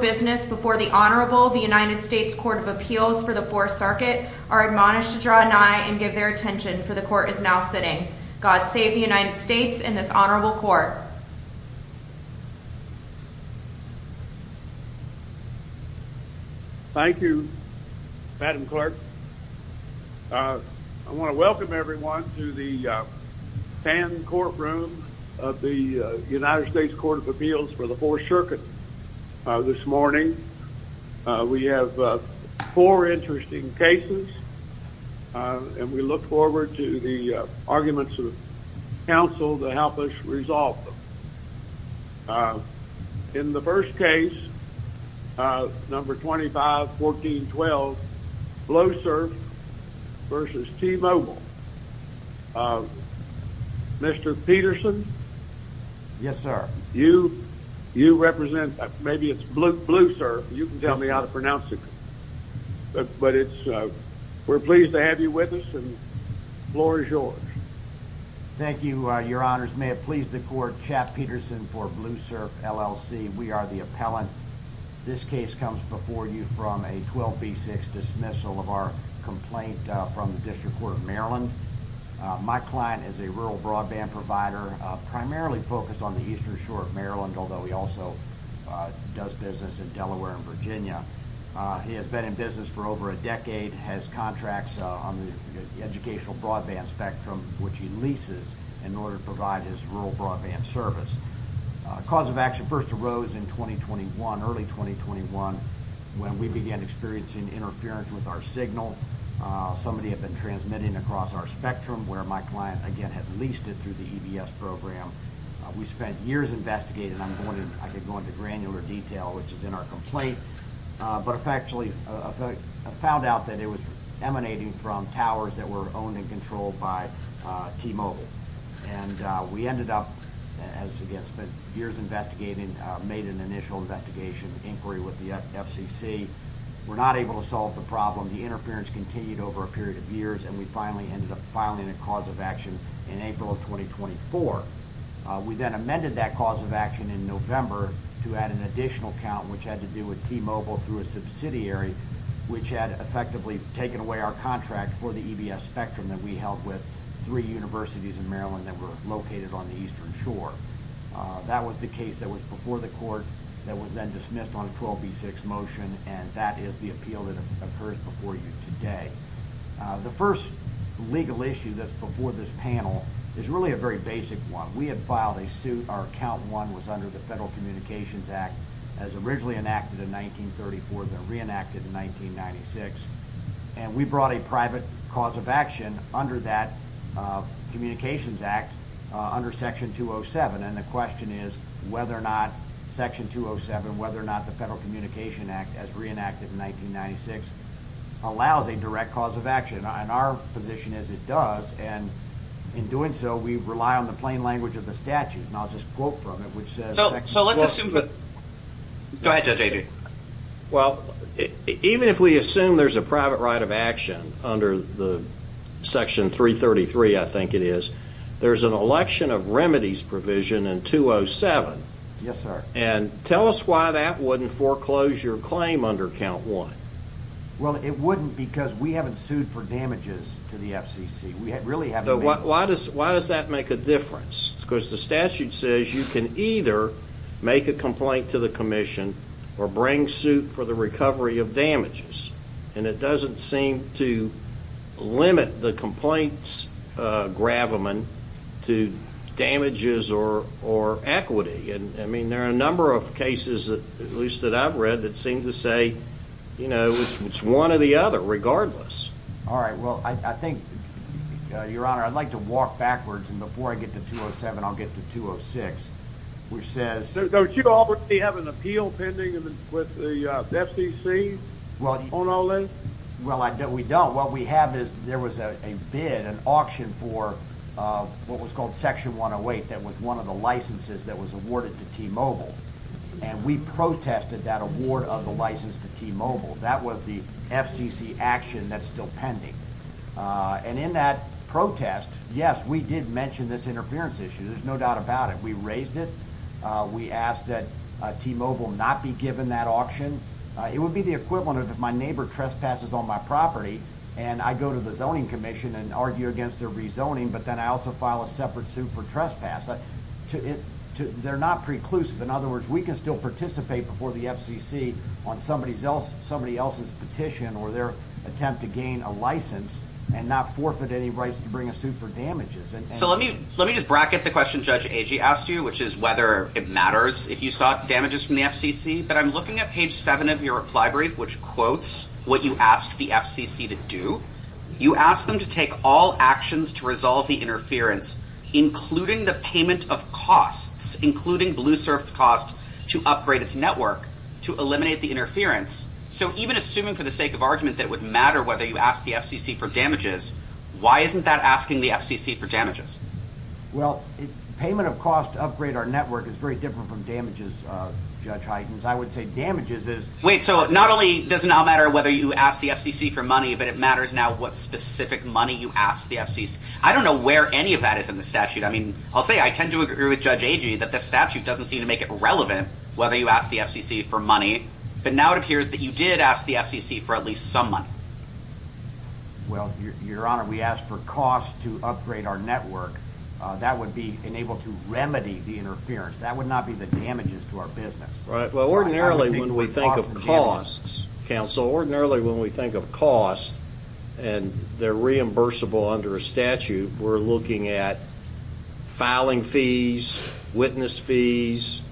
Business before the Honorable United States Court of Appeals for the Fourth Circuit are admonished to draw an eye and give their attention for the court is now sitting. God save the United States and this Honorable Court. Thank you, Madam Clerk. I want to welcome everyone to the morning. We have four interesting cases and we look forward to the arguments of counsel to help us resolve them. In the first case, number 25-14-12, Bloosurf v. T-Mobile. Mr. Peterson. Yes, sir. You represent, maybe it's Bloosurf, you can tell me how to pronounce it, but we're pleased to have you with us and the floor is yours. Thank you, Your Honors. May it please the court, Chad Peterson for Bloosurf, LLC. We are the appellant. This case comes before you from a 12B6 dismissal of our complaint from the District Court of Maryland. My client is a rural broadband provider primarily focused on the eastern shore of Maryland, although he also does business in Delaware and Virginia. He has been in business for over a decade, has contracts on the educational broadband spectrum, which he leases in order to provide his rural broadband service. Cause of action first arose in early 2021 when we began interference with our signal. Somebody had been transmitting across our spectrum where my client again had leased it through the EBS program. We spent years investigating. I could go into granular detail, which is in our complaint, but effectively found out that it was emanating from towers that were owned and controlled by T-Mobile. And we ended up, as again, spent years investigating, made an initial investigation inquiry with the FCC. We're not able to solve the problem. The interference continued over a period of years, and we finally ended up filing a cause of action in April of 2024. We then amended that cause of action in November to add an additional count, which had to do with T-Mobile through a subsidiary, which had effectively taken away our contract for the EBS spectrum that we held with three universities in Maryland that were located on the eastern shore. That was the case that was before the court that was then dismissed on a 12B6 motion, and that is the appeal that occurs before you today. The first legal issue that's before this panel is really a very basic one. We had filed a suit. Our count one was under the Federal Communications Act as originally enacted in 1934, then reenacted in 1996, and we brought a private cause of action under that Communications Act under Section 207. And the question is whether or not Section 207, whether or not the Federal Communications Act as reenacted in 1996 allows a direct cause of action. And our position is it does, and in doing so we rely on the plain language of the statute. And I'll just quote from it, which says... So let's assume that... Go ahead, Judge Avery. Well, even if we assume there's a private right of action under the Section 333, I think it is, there's an election of remedies provision in 207. Yes, sir. And tell us why that wouldn't foreclose your claim under count one. Well, it wouldn't because we haven't sued for damages to the FCC. We really haven't. Why does that make a difference? Because the statute says you can either make a complaint to the commission or bring suit for the recovery of damages. And it doesn't seem to limit the complaint's gravamen to damages or equity. And I mean, there are a number of cases, at least that I've read, that seem to say, you know, it's one or the other, regardless. All right. Well, I think, Your Honor, I'd like to walk backwards. And before I get to 207, I'll get to 206, which says... Don't you already have an appeal pending with the FCC on all that? Well, we don't. What we have is there was a bid, an auction for what was called Section 108 that was one of the licenses that was awarded to T-Mobile. And we protested that award of the license to T-Mobile. That was the FCC action that's still pending. And in that protest, yes, we did mention this interference issue. There's no doubt about it. We raised it. We asked that T-Mobile not be given that auction. It would be the equivalent of if my neighbor trespasses on my property and I go to the zoning commission and argue against their rezoning, but then I also file a separate suit for trespass. They're not preclusive. In other words, we can still participate before the FCC on somebody else's petition or their attempt to gain a license and not forfeit any rights to bring a suit for damages. So let me just bracket the question Judge Agee asked you, which is whether it matters if you sought damages from the FCC. But I'm looking at page seven of your reply brief, which quotes what you asked the FCC to do. You asked them to take all actions to resolve the interference, including the payment of costs, including BlueSurf's cost to upgrade its network, to eliminate the interference. So even assuming for the sake of argument that would matter whether you ask the FCC for damages, why isn't that asking the FCC for damages? Well, payment of costs to upgrade our network is very different from damages, Judge Huygens. I would say damages is... Wait, so not only does it not matter whether you ask the FCC for money, but it matters now what specific money you ask the FCC. I don't know where any of that is in the statute. I mean, I'll say I tend to agree with Judge Agee that the statute doesn't seem to make it relevant whether you ask the FCC for money, but now it appears that you did ask the FCC for at least some money. Well, Your Honor, we asked for costs to upgrade our network. That would be enabled to remedy the interference. That would not be the damages to our business. Right. Well, ordinarily when we think of costs, counsel, ordinarily when we think of costs and they're reimbursable under a statute, we're looking at filing fees, witness fees,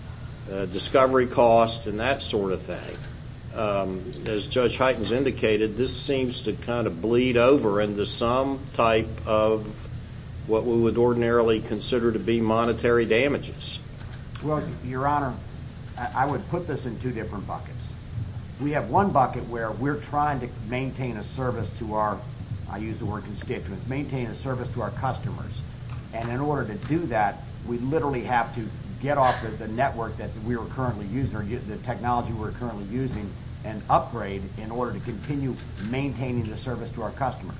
discovery costs, and that sort of thing. As Judge Huygens indicated, this seems to kind of bleed over into some type of what we would ordinarily consider to be monetary damages. Well, Your Honor, I would put this in two different buckets. We have one bucket where we're trying to maintain a service to our, I use the word constituents, maintain a service to our customers. And in order to do that, we literally have to get off the network that we are currently using or the technology we're currently using and upgrade in order to continue maintaining the service to our customers.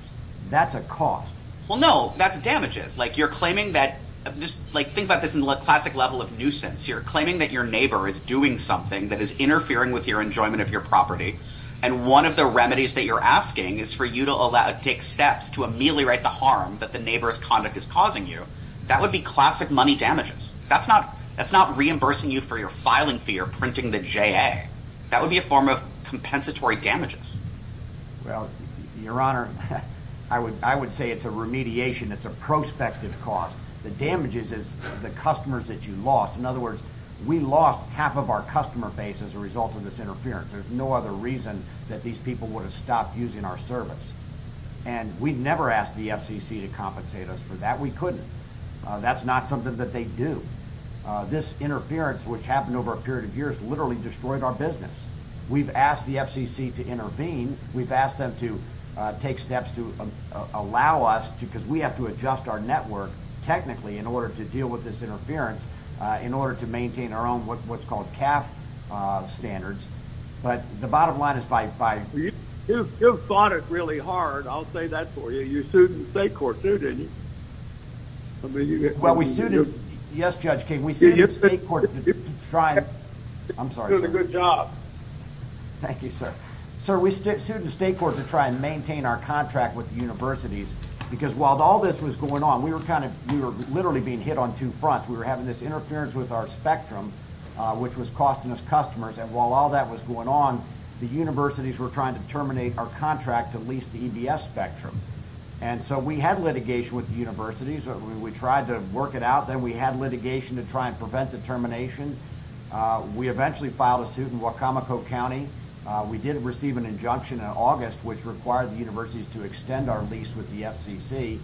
That's a cost. Well, no, that's damages. Like you're claiming that, just think about this in the classic level of nuisance. You're claiming that your neighbor is doing something that is interfering with your enjoyment of your property. And one of the remedies that you're asking is for you to allow, take steps to ameliorate the harm that the neighbor's conduct is causing you. That would be classic money damages. That's not reimbursing you for your filing fee or printing the JA. That would be a form of compensatory damages. Well, Your Honor, I would say it's a remediation. It's a prospective cause. The damages is the customers that you lost. In other words, we lost half of our customer base as a result of this interference. There's no other reason that these people would have stopped using our service. And we never asked the FCC to compensate us for that. We couldn't. That's not something that they do. This interference, which happened over a period of years, literally destroyed our business. We've asked the FCC to intervene. We've asked them to take steps to allow us to, because we have to adjust our network technically in order to deal with this interference, in order to maintain our own, what's called CAF standards. But the bottom line is by You fought it really hard. I'll say that for you. You sued the state court too, didn't you? Well, we sued it. Yes, Judge King, we sued the state court to try and... You did a good job. Thank you, sir. Sir, we sued the state court to try and maintain our contract with the universities because while all this was going on, we were literally being hit on two fronts. We were having this interference with our spectrum, which was costing us customers. And while all that was going on, the universities were trying to terminate our contract to lease the EBS spectrum. And so we had litigation with the universities. We tried to work it out. Then we had litigation to try and prevent the termination. We eventually filed a suit in Wacomico County. We did receive an injunction in August, which required the universities to extend our lease with the FCC.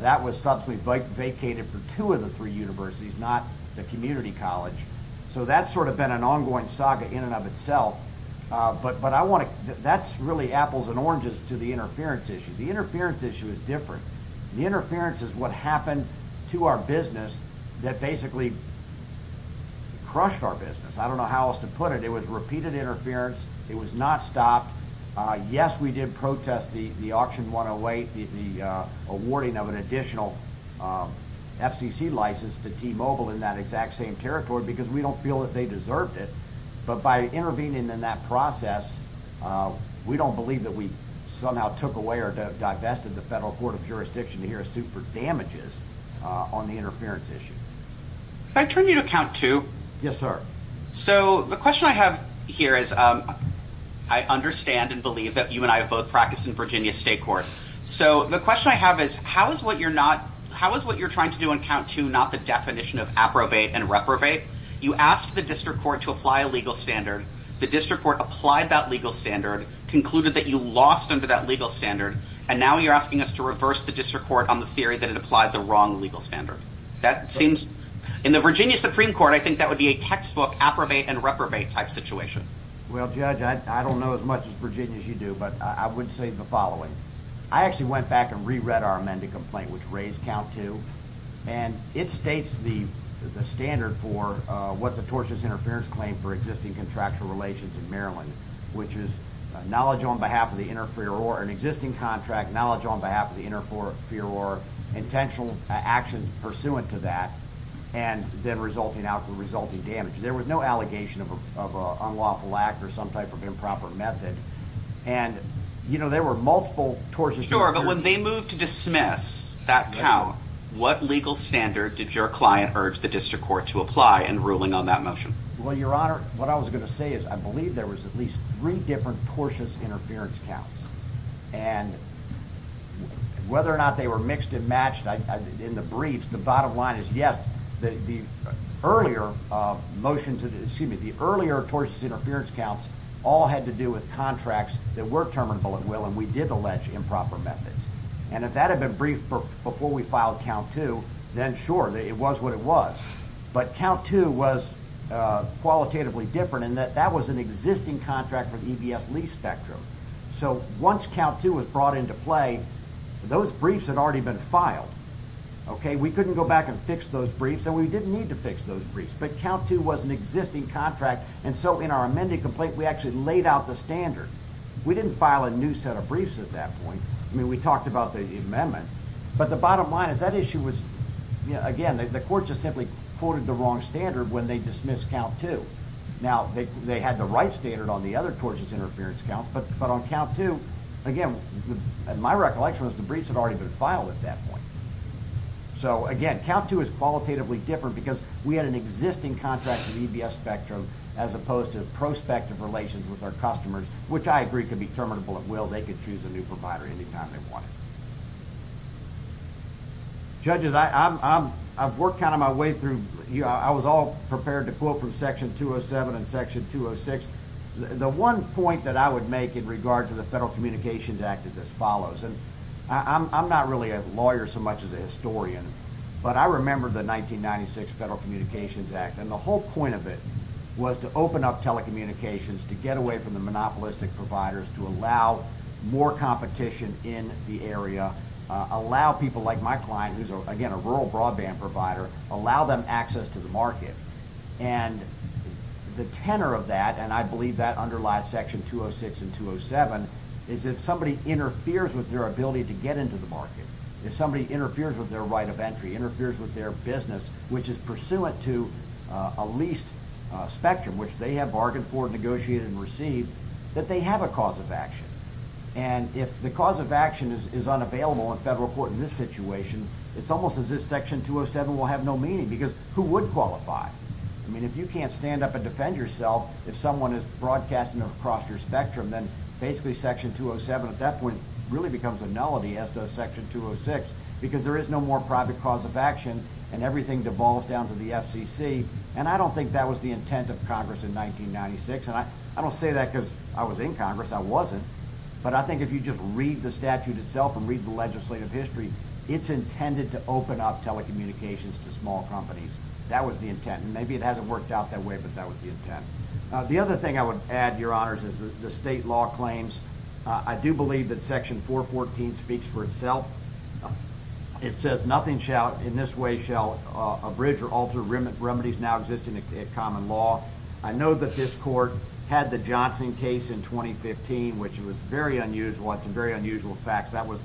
That was subsequently vacated for two of the three universities, not the community college. So that's sort of been an ongoing saga in and of itself. But that's really apples and oranges to the interference issue. The interference issue is different. The interference is what happened to our business that basically crushed our business. I don't know how else to put it. It was repeated interference. It was not stopped. Yes, we did protest the auction 108, the awarding of an additional FCC license to T-Mobile in that exact same territory, because we don't feel that they deserved it. But by intervening in that process, we don't believe that we somehow took away or divested the federal court of jurisdiction to hear a suit for damages on the interference issue. Can I turn you to count two? Yes, sir. So the question I have here is, I understand and believe that you and I have both practiced in Virginia state court. So the question I have is, how is what you're trying to do in count two not the definition of approbate and reprobate? You asked the district court to apply a legal standard. The district court applied that legal standard, concluded that you lost under that legal standard, and now you're asking us to reverse the district court on the theory that it applied the wrong legal standard. In the Virginia Supreme Court, I think that would be a textbook approbate and reprobate type situation. Well, Judge, I don't know as much as Virginia as you do, but I would say the following. I actually went back and re-read our amended complaint, which raised count two, and it states the standard for what's a tortious interference claim for existing contractual relations in Maryland, which is knowledge on behalf of the interferer or an existing contract, knowledge on behalf of the interferer, or intentional actions pursuant to that, and then resulting out for resulting damage. There was no allegation of an unlawful act or some type of improper method, and you know, there were multiple tortious... Sure, but when they moved to dismiss that count, what legal standard did your client urge the district court to apply in ruling on that motion? Well, your honor, what I was going to say is I believe there was at least three different tortious interference counts, and whether or not they were mixed and matched in the briefs, the bottom line is yes, the earlier motions, excuse me, the earlier tortious interference counts all had to do with contracts that were terminable at will, and we did allege improper methods, and if that had been briefed before we filed count two, then sure, it was what it was, but count two was qualitatively different in that that was an existing contract for the EBS spectrum, so once count two was brought into play, those briefs had already been filed, okay, we couldn't go back and fix those briefs, and we didn't need to fix those briefs, but count two was an existing contract, and so in our amended complaint, we actually laid out the standard. We didn't file a new set of briefs at that point. I mean, we talked about the amendment, but the bottom line is that issue was, you know, again, the court just simply quoted the wrong standard when they dismissed count two. Now, they had the right standard on the other tortious interference count, but on count two, again, and my recollection was the briefs had already been filed at that point, so again, count two is qualitatively different because we had an existing contract for the EBS spectrum as opposed to prospective relations with our customers, which I agree could be terminable at will. They could choose a new provider anytime they wanted. Judges, I've worked kind of my way through, you know, I was all prepared to quote from Section 207 and Section 206. The one point that I would make in regard to the Federal Communications Act is as follows, and I'm not really a lawyer so much as a historian, but I remember the 1996 Federal Communications Act, and the whole point of it was to open up telecommunications to get away from the area, allow people like my client, who's, again, a rural broadband provider, allow them access to the market, and the tenor of that, and I believe that underlies Section 206 and 207, is if somebody interferes with their ability to get into the market, if somebody interferes with their right of entry, interferes with their business, which is pursuant to a leased spectrum, which they have bargained for, negotiated, and received, that they have a cause of action, and if the cause of action is unavailable in federal court in this situation, it's almost as if Section 207 will have no meaning, because who would qualify? I mean, if you can't stand up and defend yourself, if someone is broadcasting across your spectrum, then basically Section 207 at that point really becomes a nullity, as does Section 206, because there is no more private cause of action, and everything devolves down to the FCC, and I don't think that was the intent of Congress in 1996, and I don't say that because I was in Congress, I wasn't, but I think if you just read the statute itself, and read the legislative history, it's intended to open up telecommunications to small companies, that was the intent, and maybe it hasn't worked out that way, but that was the intent. The other thing I would add, your honors, is the state law claims, I do believe that Section 414 speaks for itself, it says, nothing shall, in this way, shall abridge or alter remedies now existing at common law. I know that this court had the Johnson case in 2015, which was very unusual, it's a very unusual fact, that was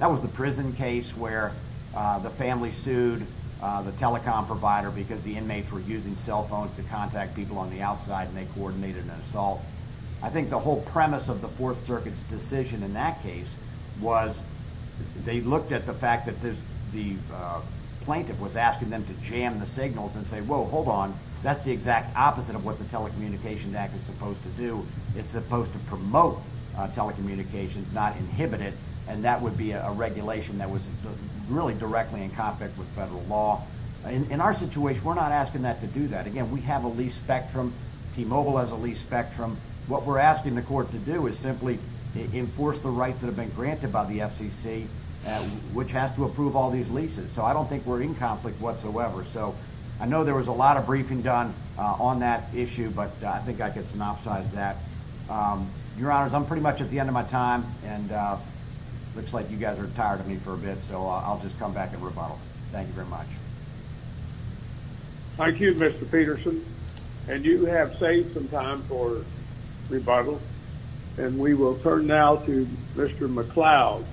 the prison case where the family sued the telecom provider because the inmates were using cell phones to contact people on the outside, and they coordinated an assault. I think the whole premise of the Fourth Circuit's decision in that case was, they looked at the fact that the plaintiff was asking them to jam the signals and say, hold on, that's the exact opposite of what the Telecommunications Act is supposed to do, it's supposed to promote telecommunications, not inhibit it, and that would be a regulation that was really directly in conflict with federal law. In our situation, we're not asking that to do that. Again, we have a lease spectrum, T-Mobile has a lease spectrum, what we're asking the court to do is simply enforce the rights that have been granted by the FCC, which has to approve all leases, so I don't think we're in conflict whatsoever. I know there was a lot of briefing done on that issue, but I think I could synopsize that. Your Honors, I'm pretty much at the end of my time, and it looks like you guys are tired of me for a bit, so I'll just come back and rebuttal. Thank you very much. Thank you, Mr. Peterson, and you have saved some time for rebuttal, and we will turn now to Mr. McLeod,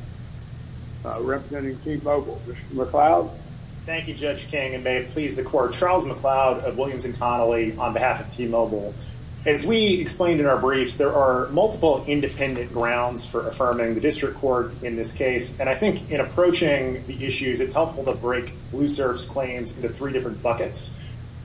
representing T-Mobile. Mr. McLeod? Thank you, Judge King, and may it please the court. Charles McLeod of Williams and Connolly on behalf of T-Mobile. As we explained in our briefs, there are multiple independent grounds for affirming the district court in this case, and I think in approaching the issues, it's helpful to break Blue Surf's claims into three different buckets,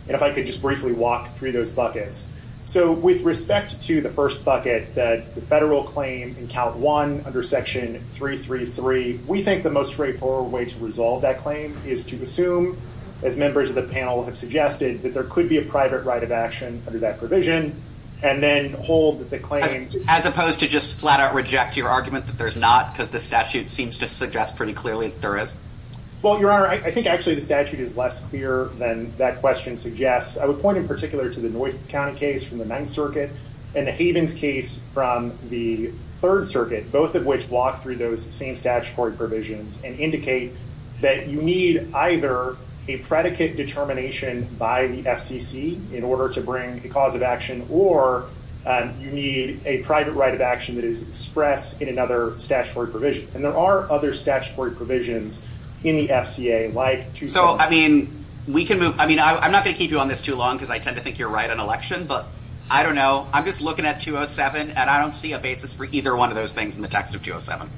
and if I could just briefly walk through those buckets. So with respect to the first bucket, that the federal claim in count one under section 333, we think the most straightforward way to resolve that claim is to assume, as members of the panel have suggested, that there could be a private right of action under that provision, and then hold the claim... As opposed to just flat out reject your argument that there's not, because the statute seems to suggest pretty clearly that there is. Well, Your Honor, I think actually the statute is less clear than that question suggests. I would in particular to the North County case from the Ninth Circuit and the Havens case from the Third Circuit, both of which walk through those same statutory provisions and indicate that you need either a predicate determination by the FCC in order to bring a cause of action, or you need a private right of action that is expressed in another statutory provision, and there are other statutory provisions in the FCA like... We can move... I mean, I'm not going to keep you on this too long, because I tend to think you're right on election, but I don't know. I'm just looking at 207, and I don't see a basis for either one of those things in the text of 207.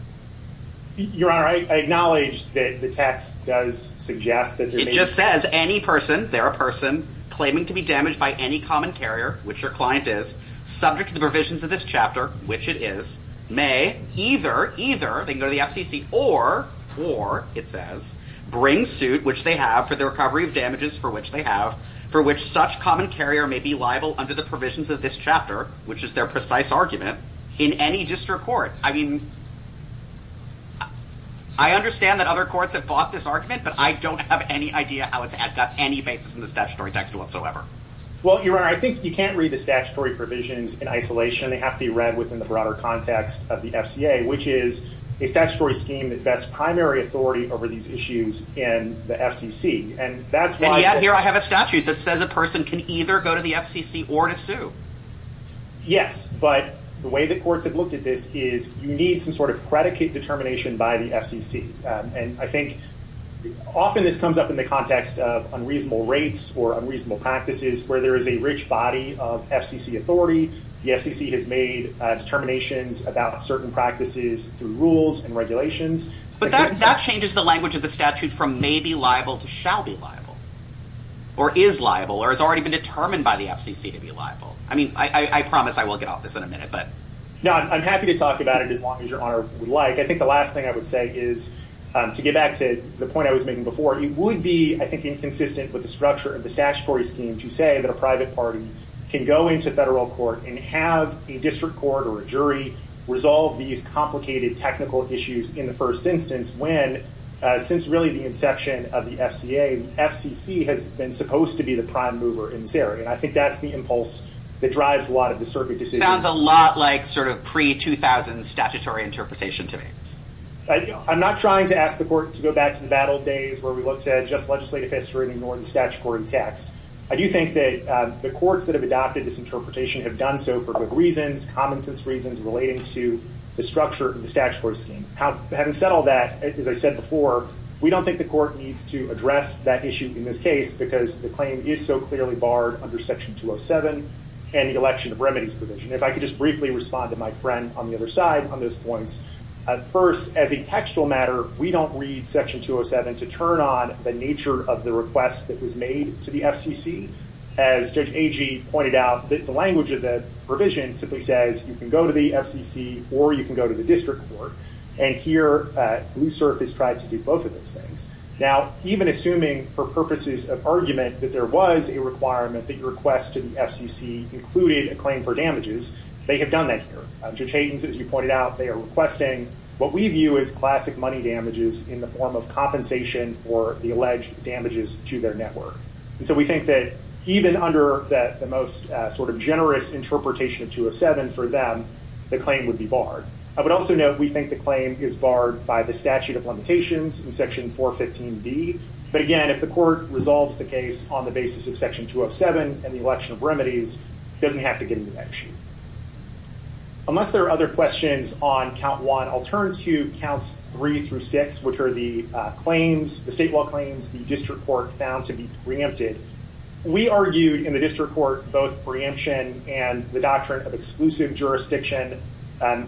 Your Honor, I acknowledge that the text does suggest that there may be... It just says any person, they're a person, claiming to be damaged by any common carrier, which your client is, subject to the provisions of this chapter, which it is, may either, either, they can go to the FCC, or, or, it says, bring suit, which they have, for the recovery of damages, for which they have, for which such common carrier may be liable under the provisions of this chapter, which is their precise argument, in any district court. I mean, I understand that other courts have bought this argument, but I don't have any idea how it's got any basis in the statutory text whatsoever. Well, your Honor, I think you can't read the statutory provisions in isolation. They have to be read within the broader context of the FCA, which is a statutory scheme that vests primary authority over these issues in the FCC, and that's why... And yet, here I have a statute that says a person can either go to the FCC or to sue. Yes, but the way the courts have looked at this is you need some sort of predicate determination by the FCC, and I think often this comes up in the context of unreasonable rates or unreasonable practices, where there is a rich body of FCC authority. The FCC has made determinations about certain practices through rules and regulations. But that changes the language of the statute from may be liable to shall be liable, or is liable, or has already been determined by the FCC to be liable. I mean, I promise I will get off this in a minute, but... No, I'm happy to talk about it as long as your Honor would like. I think the last thing I would say is, to get back to the point I was making before, it would be, I think, inconsistent with the structure of the statutory scheme to say that a private party can go into federal court and have a district court or a jury resolve these complicated technical issues in the first instance when, since really the inception of the FCA, FCC has been supposed to be the prime mover in this area. And I think that's the impulse that drives a lot of the circuit decisions. Sounds a lot like sort of pre-2000s statutory interpretation to me. I'm not trying to ask the court to go back to the bad old days where we had just legislative history and ignored the statutory text. I do think that the courts that have adopted this interpretation have done so for good reasons, common sense reasons relating to the structure of the statutory scheme. Having said all that, as I said before, we don't think the court needs to address that issue in this case because the claim is so clearly barred under Section 207 and the election of remedies provision. If I could just briefly respond to my friend on the other side on those points. First, as a textual matter, we don't read Section 207 to turn on the nature of the request that was made to the FCC. As Judge Agee pointed out, the language of the provision simply says you can go to the FCC or you can go to the district court. And here, Blue Surface tried to do both of those things. Now, even assuming for purposes of argument that there was a requirement that your request to the FCC included a claim for damages, they have done that here. Judge Hayden, as you pointed out, they are requesting what we view as classic money damages in the form of compensation for the alleged damages to their network. And so we think that even under the most sort of generous interpretation of 207 for them, the claim would be barred. I would also note we think the claim is barred by the statute of limitations in Section 415B. But again, if the court resolves the case on the basis of Section 207 and the election of remedies, it doesn't have to get into that sheet. Unless there are other questions on Count 1, I'll turn to Counts 3 through 6, which are the claims, the state law claims the district court found to be preempted. We argued in the district court both preemption and the doctrine of exclusive jurisdiction.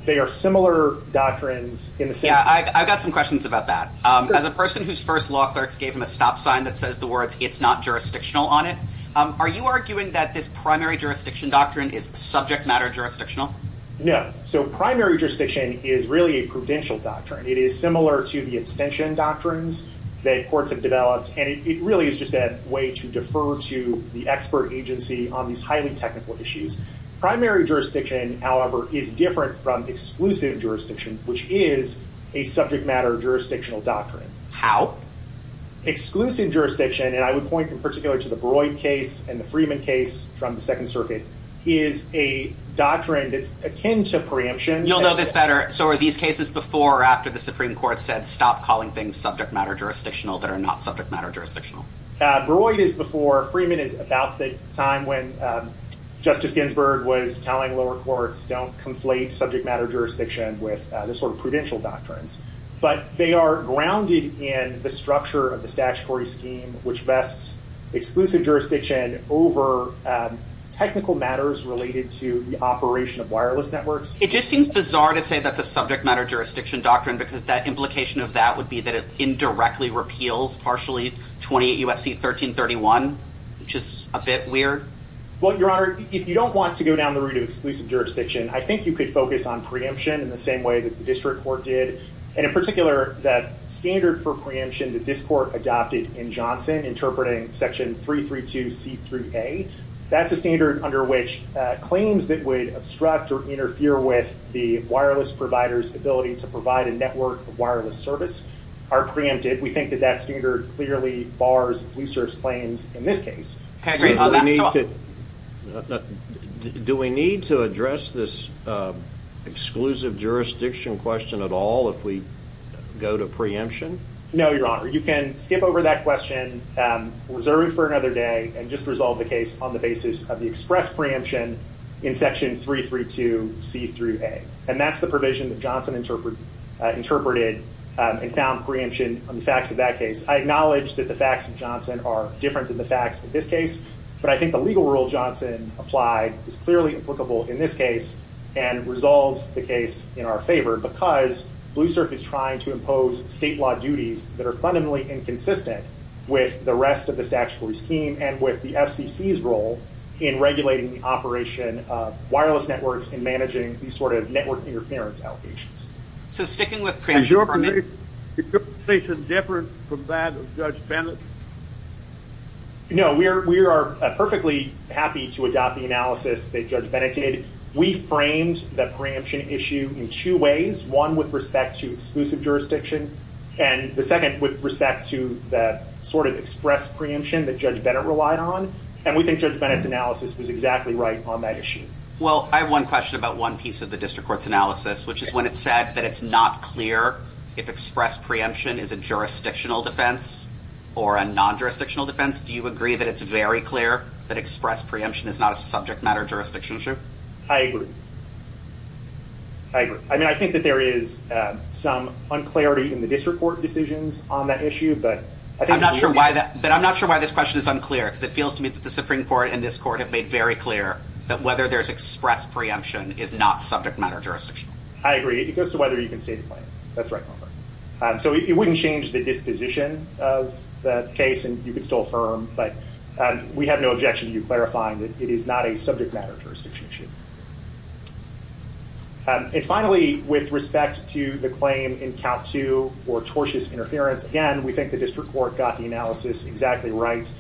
They are similar doctrines. Yeah, I've got some questions about that. As a person whose first law clerks gave him a stop sign that says the words, it's not jurisdictional on it, are you arguing that this primary jurisdiction doctrine is subject matter jurisdictional? No. So primary jurisdiction is really a prudential doctrine. It is similar to the extension doctrines that courts have developed. And it really is just a way to defer to the expert agency on these highly technical issues. Primary jurisdiction, however, is different from exclusive jurisdiction, which is a subject matter jurisdictional doctrine. How? Exclusive jurisdiction, and I would point in the Breuil case and the Freeman case from the Second Circuit, is a doctrine that's akin to preemption. You'll know this better. So are these cases before or after the Supreme Court said, stop calling things subject matter jurisdictional that are not subject matter jurisdictional? Breuil is before. Freeman is about the time when Justice Ginsburg was telling lower courts, don't conflate subject matter jurisdiction with this sort of prudential doctrines. But they are grounded in the structure of the statutory scheme, which vests exclusive jurisdiction over technical matters related to the operation of wireless networks. It just seems bizarre to say that's a subject matter jurisdiction doctrine, because the implication of that would be that it indirectly repeals Partially 28 U.S.C. 1331, which is a bit weird. Well, Your Honor, if you don't want to go down the route of exclusive jurisdiction, I think you could focus on preemption in the same way that the district court did. And in particular, that standard for preemption that this court adopted in Johnson interpreting Section 332C3A, that's a standard under which claims that would obstruct or interfere with the wireless provider's ability to provide a network of wireless service are preempted. We think that that standard clearly bars blue surface claims in this case. So do we need to address this exclusive jurisdiction question at all if we go to preemption? No, Your Honor. You can skip over that question, reserve it for another day, and just resolve the case on the basis of the express preemption in Section 332C3A. And that's the provision that Johnson interpreted and found preemption on the facts of that case. I acknowledge that the facts of Johnson are different than the facts of this case, but I think the legal rule Johnson applied is clearly applicable in this case and resolves the case in our favor because BlueSurf is trying to impose state law duties that are fundamentally inconsistent with the rest of the statutory scheme and with the FCC's role in regulating the operation of wireless networks and managing these sort of network interference allocations. So sticking with preemption for a minute. Is your position different from that of Judge Bennett? No, we are perfectly happy to adopt the analysis that Judge Bennett did. We framed that preemption issue in two ways, one with respect to exclusive jurisdiction, and the second with respect to that sort of express preemption that Judge Bennett relied on. And we think Judge Bennett's analysis was exactly right on that issue. Well, I have one question about one piece of the district court's analysis, which is when it said that it's not clear if express preemption is a jurisdictional defense or a non-jurisdictional defense. Do you agree that it's very clear that express preemption is not a subject matter jurisdiction issue? I agree. I agree. I mean, I think that there is some unclarity in the district court decisions on that issue, but I think- I'm not sure why that- But I'm not sure why this question is unclear because it feels to me that the Supreme Court and this court have made very clear that whether there's express preemption is not a subject matter jurisdiction. I agree. It goes to whether you can stay in the plane. That's right. So it wouldn't change the disposition of the case, and you could still affirm, but we have no objection to you clarifying that it is not a subject matter jurisdiction issue. And finally, with respect to the claim in count two for tortious interference, again, we think the district court got the analysis exactly right.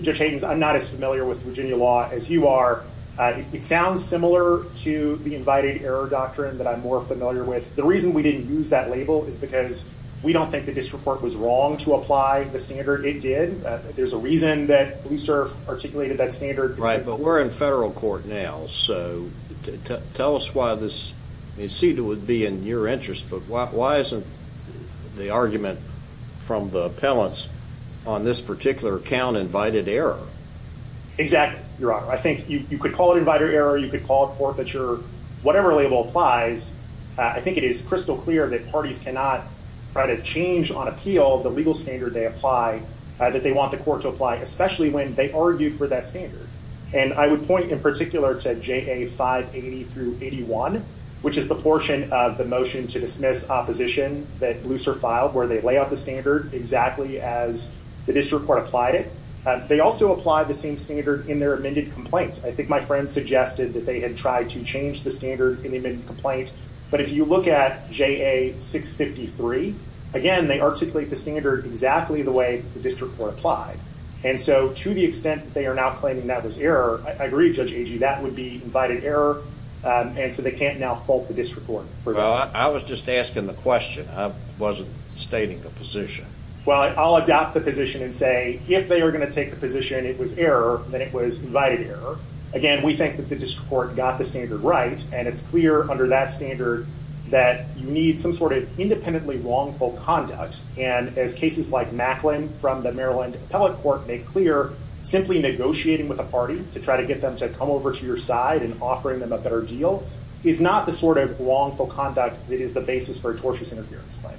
Judge Hayden, I'm not as familiar with Virginia law as you are. It sounds similar to the invited error doctrine that I'm more familiar with. The reason we didn't use that label is because we don't think the district court was wrong to apply the standard it did. There's a reason that Blue Surf articulated that standard- Right, but we're in federal court now, so tell us why this- I mean, it seemed it would be in your interest, but why isn't the argument from the appellants on this particular count invited error? Exactly, Your Honor. You could call it invited error. You could call it forfeiture. Whatever label applies, I think it is crystal clear that parties cannot try to change on appeal the legal standard they apply, that they want the court to apply, especially when they argue for that standard. And I would point in particular to JA 580 through 81, which is the portion of the motion to dismiss opposition that Blue Surf filed, where they lay out the standard exactly as the district court applied it. They also apply the same standard in their amended complaint. I think my friend suggested that they had tried to change the standard in the amended complaint. But if you look at JA 653, again, they articulate the standard exactly the way the district court applied. And so to the extent that they are now claiming that was error, I agree, Judge Agee, that would be invited error. And so they can't now fault the district court for- Well, I was just asking the question. I wasn't stating the position. Well, I'll adopt the position and say if they are going to take the position it was error, then it was invited error. Again, we think that the district court got the standard right. And it's clear under that standard that you need some sort of independently wrongful conduct. And as cases like Macklin from the Maryland Appellate Court make clear, simply negotiating with a party to try to get them to come over to your side and offering them a better deal is not the sort of wrongful conduct that is the basis for a tortious interference claim.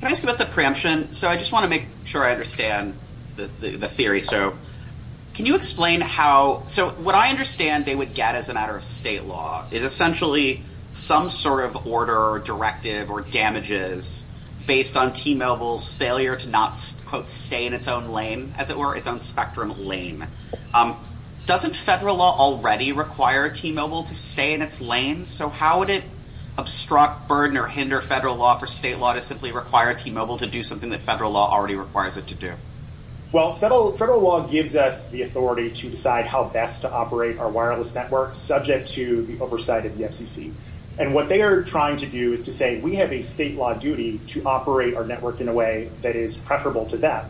Can I ask about the preemption? So I just want to make sure I understand the theory. So can you explain how- So what I understand they would get as a matter of state law is essentially some sort of order or directive or damages based on T-Mobile's failure to not, quote, stay in its own lane, as it were, its own spectrum lane. Doesn't federal law already require T-Mobile to stay in its lane? So how would it obstruct, burden, or hinder federal law for state law to simply require T-Mobile to do something that federal law already requires it to do? Well, federal law gives us the authority to decide how best to operate our wireless network subject to the oversight of the FCC. And what they are trying to do is to say, we have a state law duty to operate our network in a way that is preferable to them.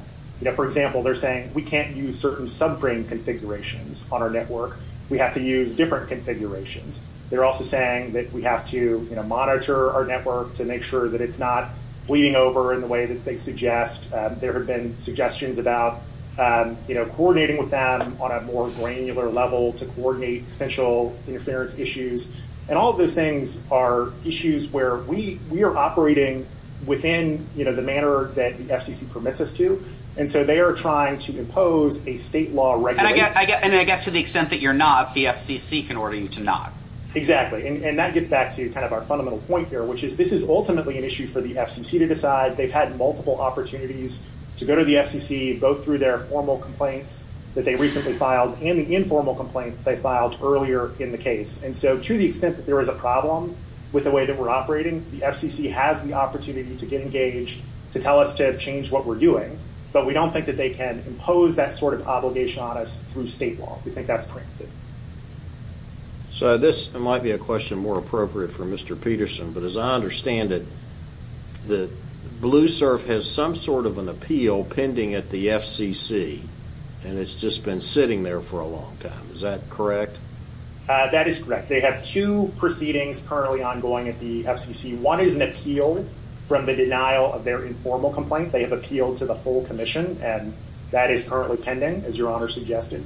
For example, they're saying, we can't use certain subframe configurations on our network. We have to use different configurations. They're also saying that we have to monitor our network to make sure that it's not bleeding over in the way that they suggest. There have been suggestions about coordinating with them on a more granular level to coordinate potential interference issues. And all of those things are issues where we are operating within the manner that the FCC permits us to. And so they are trying to impose a state law regulation- And I guess to the extent that you're not, the FCC can order you to not. Exactly. And that gets back to kind of our fundamental point here, which is this is ultimately an issue for the FCC to decide. They've had multiple opportunities to go to the FCC, both through their formal complaints that they recently filed and the informal complaint they filed earlier in the case. And so to the extent that there is a problem with the way that we're operating, the FCC has the opportunity to get engaged, to tell us to change what we're doing. But we don't think that they can impose that sort of obligation on us through state law. We think that's preemptive. So this might be a question more appropriate for Mr. Peterson, but as I understand it, the BlueSurf has some sort of an appeal pending at the FCC, and it's just been sitting there for a long time. Is that correct? That is correct. They have two proceedings currently ongoing at the FCC. One is an appeal from the denial of their informal complaint. They have appealed to the full commission, and that is currently pending, as your Honor suggested.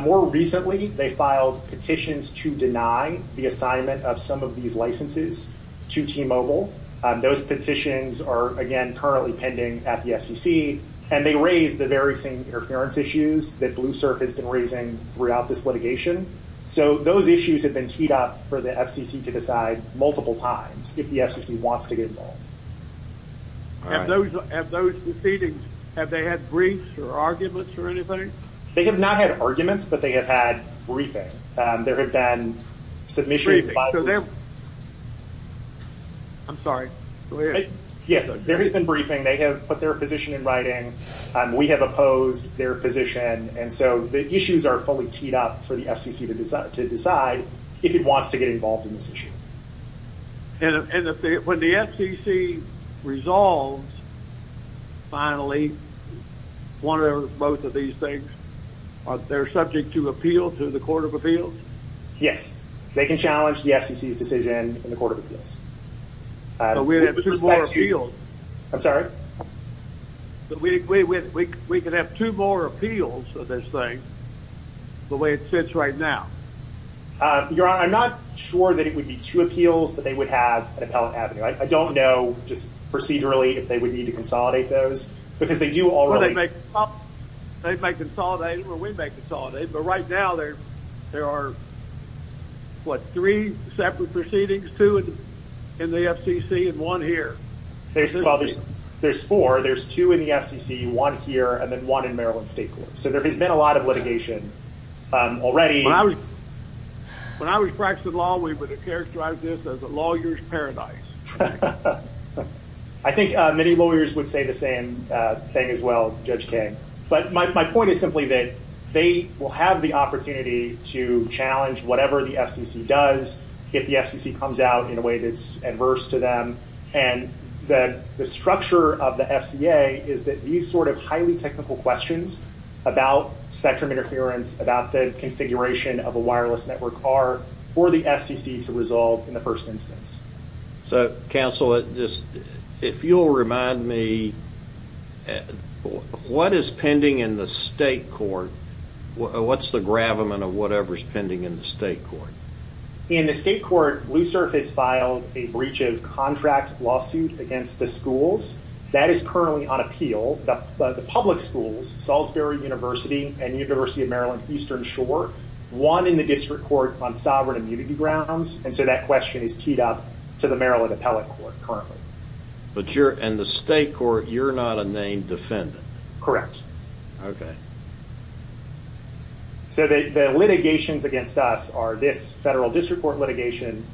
More recently, they filed petitions to deny the assignment of some of these licenses to T-Mobile. Those petitions are, again, currently pending at the FCC, and they raise the very same interference issues that BlueSurf has been raising throughout this litigation. So those issues have been teed up for the FCC to decide multiple times if the FCC wants to get involved. All right. Have those proceedings, have they had briefs or arguments or anything? They have not had arguments, but they have had briefing. There have been submissions by... I'm sorry, go ahead. Yes, there has been briefing. They have put their position in writing. We have opposed their position. And so the issues are fully teed up for the FCC to decide if it wants to get involved in this issue. And when the FCC resolves, finally, one or both of these things, are they subject to appeal to the Court of Appeals? Yes. They can challenge the FCC's decision in the Court of Appeals. But we would have two more appeals. I'm sorry? But we could have two more appeals of this thing the way it sits right now. Your Honor, I'm not sure that it would be two appeals that they would have at Appellate Avenue. I don't know just procedurally if they would need to consolidate those because they do already... They might consolidate or we might consolidate. But right now, there are, what, three separate proceedings? Two in the FCC and one here. There's four. There's two in the FCC, one here, and then one in Maryland State Court. So there has been a lot of litigation already. When I was practicing law, we would characterize this as a lawyer's paradise. I think many lawyers would say the same thing as well, Judge King. But my point is simply that they will have the opportunity to challenge whatever the FCC does if the FCC comes out in a way that's adverse to them. And the structure of the FCA is that these sort of highly technical questions about spectrum interference, about the configuration of a wireless network are for the FCC to resolve in the first instance. So, counsel, if you'll remind me, what is pending in the state court? What's the gravamen of whatever's pending in the state court? In the state court, Blue Surface filed a breach of contract lawsuit against the schools. That is currently on appeal. The public schools, Salisbury University and University of Maryland Eastern Shore, won in the district court on sovereign immunity grounds. And so that question is keyed up to the Maryland Appellate Court currently. But you're in the state court. You're not a named defendant. Okay. So the litigations against us are this federal district court litigation,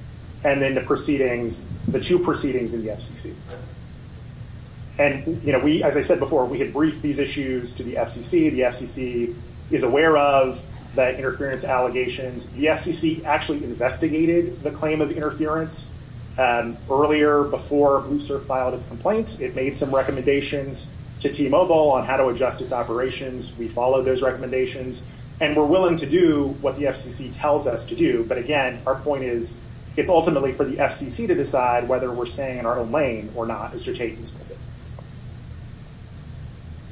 and then the proceedings, the two proceedings in the FCC. And, you know, we, as I said before, we had briefed these issues to the FCC. The FCC is aware of the interference allegations. The FCC actually investigated the claim of interference earlier before Blue Surface filed its complaint. It made some recommendations to T-Mobile on how to adjust its operations. We followed those recommendations. And we're willing to do what the FCC tells us to do. But again, our point is, it's ultimately for the FCC to decide whether we're staying in our own lane or not as they're taking this.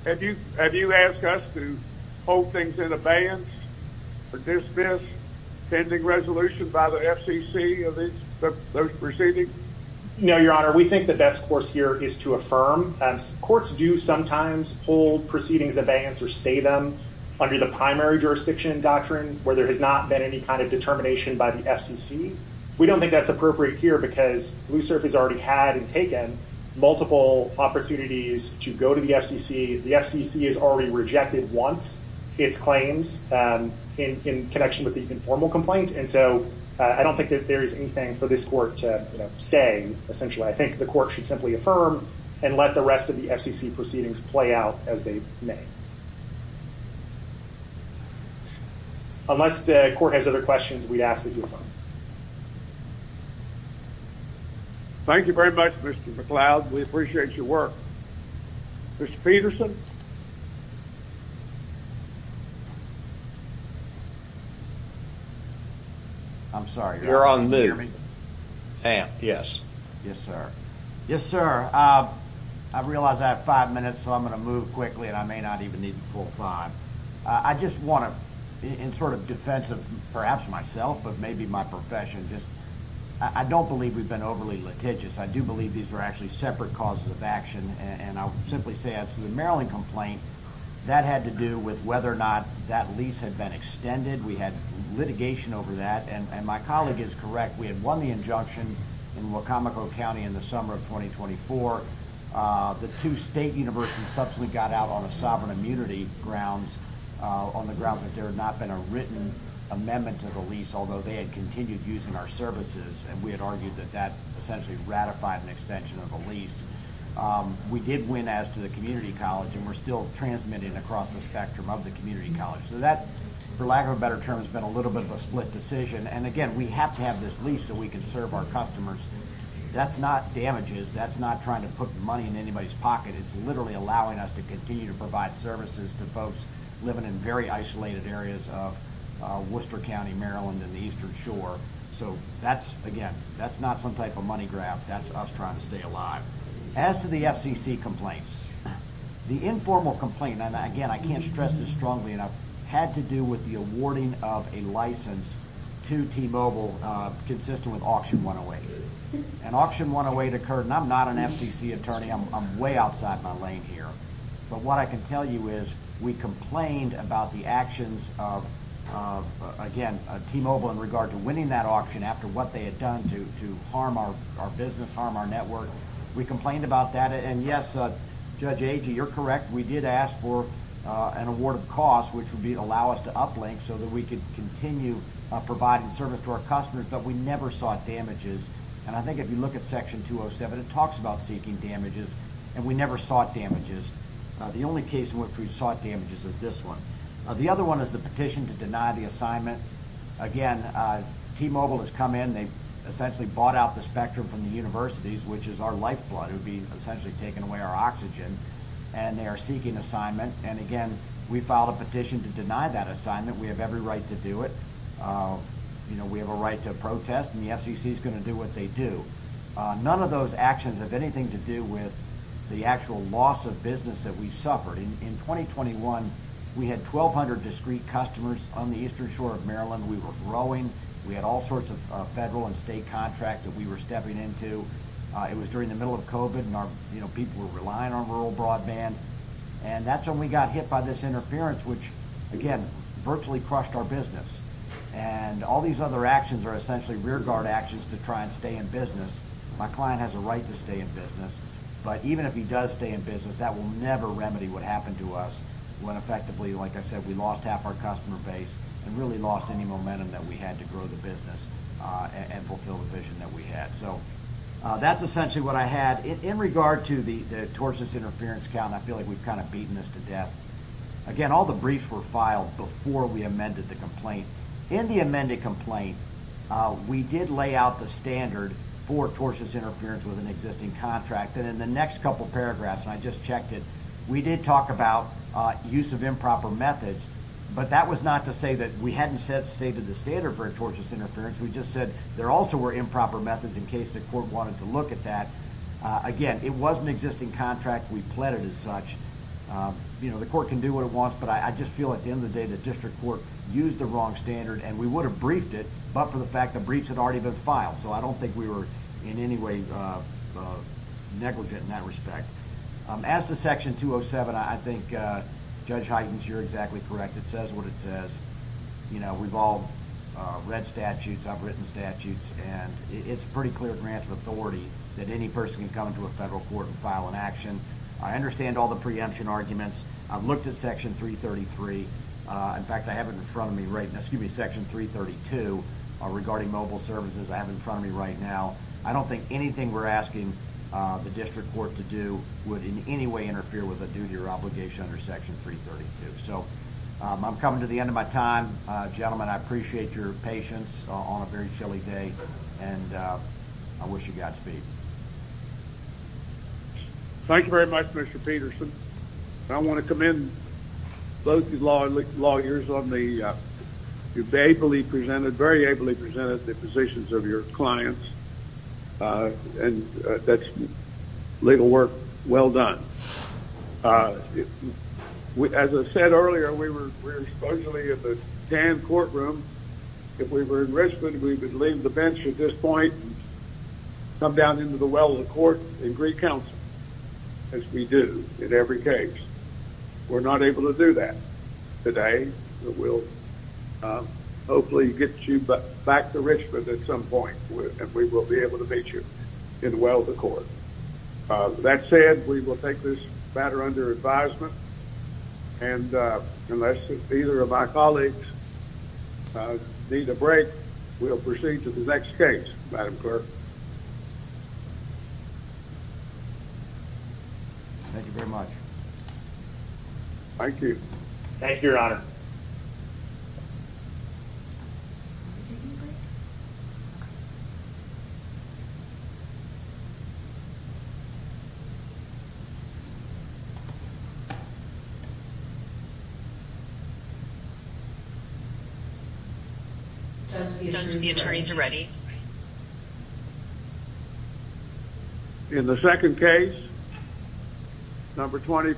Have you asked us to hold things in abeyance or dismiss pending resolution by the FCC of those proceedings? No, Your Honor. We think the best course here is to affirm. Courts do sometimes hold proceedings in abeyance or stay them under the primary jurisdiction doctrine where there has not been any kind of determination by the FCC. We don't think that's appropriate here because Blue Surface has already had and taken multiple opportunities to go to the FCC. The FCC has already rejected once its claims in connection with the informal complaint. And so I don't think that there is anything for this court to stay, essentially. I think the court should simply affirm and let the rest of the FCC proceedings play out as they may. Unless the court has other questions, we'd ask that you affirm. Thank you very much, Mr. McLeod. We appreciate your work. Mr. Peterson? I'm sorry. You're on mute, Sam. Yes, sir. Yes, sir. I realize I have five minutes, so I'm going to move quickly and I may not even need the full time. I just want to, in sort of defense of perhaps myself, but maybe my profession, I don't believe we've been overly litigious. I do believe these are actually separate causes of action. And I'll simply say, as to the Maryland complaint, that had to do with whether or not that lease had been extended. We had litigation over that. And my colleague is correct. We had won the injunction in Wacomico County in the summer of 2024. The two state universities subsequently got out on a sovereign immunity grounds on the grounds that there had not been a written amendment to the lease, although they had continued using our services. And we had argued that that essentially ratified an extension of a lease. We did win as to the community college, and we're still transmitting across the spectrum of the community college. So that, for lack of a better term, has been a little bit of a split decision. And again, we have to have this lease so we can serve our customers. That's not damages. That's not trying to put money in anybody's pocket. It's literally allowing us to continue to provide services to folks living in very isolated areas of Worcester County, Maryland, and the Eastern Shore. So that's, again, that's not some type of money grab. That's us trying to stay alive. As to the FCC complaints, the informal complaint, and again, I can't stress this strongly enough, had to do with the awarding of a license to T-Mobile consistent with Auction 108. An Auction 108 occurred, and I'm not an FCC attorney. I'm way outside my lane here. But what I can tell you is we complained about the actions of, again, T-Mobile in regard to winning that auction after what they had done to harm our business, harm our network. We complained about that. And yes, Judge Agee, you're correct. We did ask for an award of cost, which would allow us to uplink so that we could continue providing service to our customers, but we never sought damages. And I think if you look at Section 207, it talks about seeking damages, and we never sought damages. The only case in which we sought damages is this one. The other one is the petition to deny the assignment. Again, T-Mobile has come in. They essentially bought out the spectrum from the universities, which is our lifeblood. It would be essentially taking away our oxygen. And they are seeking assignment. And again, we filed a petition to deny that assignment. We have every right to do it. We have a right to protest, and the FCC is going to do what they do. None of those actions have anything to do with the actual loss of business that we suffered. In 2021, we had 1,200 discreet customers on the eastern shore of Maryland. We were growing. We had all sorts of federal and state contracts that we were stepping into. It was during the middle of COVID, and our people were relying on rural broadband. And that's when we got hit by this interference, which, again, virtually crushed our business. And all these other actions are essentially rearguard actions to try and stay in business. My client has a right to stay in business. But even if he does stay in business, that will never remedy what happened to us when effectively, like I said, we lost half our customer base and really lost any momentum that we had to grow the business and fulfill the vision that we had. So that's essentially what I had. In regard to the tortious interference count, I feel like we've kind of beaten this to death. Again, all the briefs were filed before we amended the complaint. In the amended complaint, we did lay out the standard for tortious interference with an existing contract. And in the next couple paragraphs, and I just checked it, we did talk about use of improper methods. But that was not to say that we hadn't stated the standard for tortious interference. We just said there also were improper methods in case the court wanted to look at that. Again, it was an existing contract. We pled it as such. You know, the court can do what it wants, but I just feel at the end of the day, the district court used the wrong standard and we would have briefed it, but for the fact the briefs had already been filed. So I don't think we were in any way negligent in that respect. As to Section 207, I think Judge Heitens, you're exactly correct. It says what it says. You know, we've all read statutes, I've written statutes, and it's pretty clear grants of authority that any person can come into a federal court and file an action. I understand all the preemption arguments. I've looked at Section 333. In fact, I have it in front of me right now, excuse me, Section 332 regarding mobile services. I have it in front of me right now. I don't think anything we're asking the district court to do would in any way interfere with a due to your obligation under Section 332. So I'm coming to the end of my time. Gentlemen, I appreciate your patience on a very chilly day, and I wish you Godspeed. Thank you very much, Mr. Peterson. I want to commend both the lawyers on the... You've ably presented, very ably presented the positions of your clients, and that's legal work well done. As I said earlier, we were supposedly at the Dan courtroom. If we were in Richmond, we would leave the bench at this point and come down here and sit down. We're not able to do that today. But we'll hopefully get you back to Richmond at some point, and we will be able to meet you in the well of the court. That said, we will take this matter under advisement. And unless either of my colleagues need a break, we'll proceed to the next case, Madam Clerk. Thank you very much. Thank you. Thank you, Your Honor. Judge, the attorneys are ready. In the second case, number 25.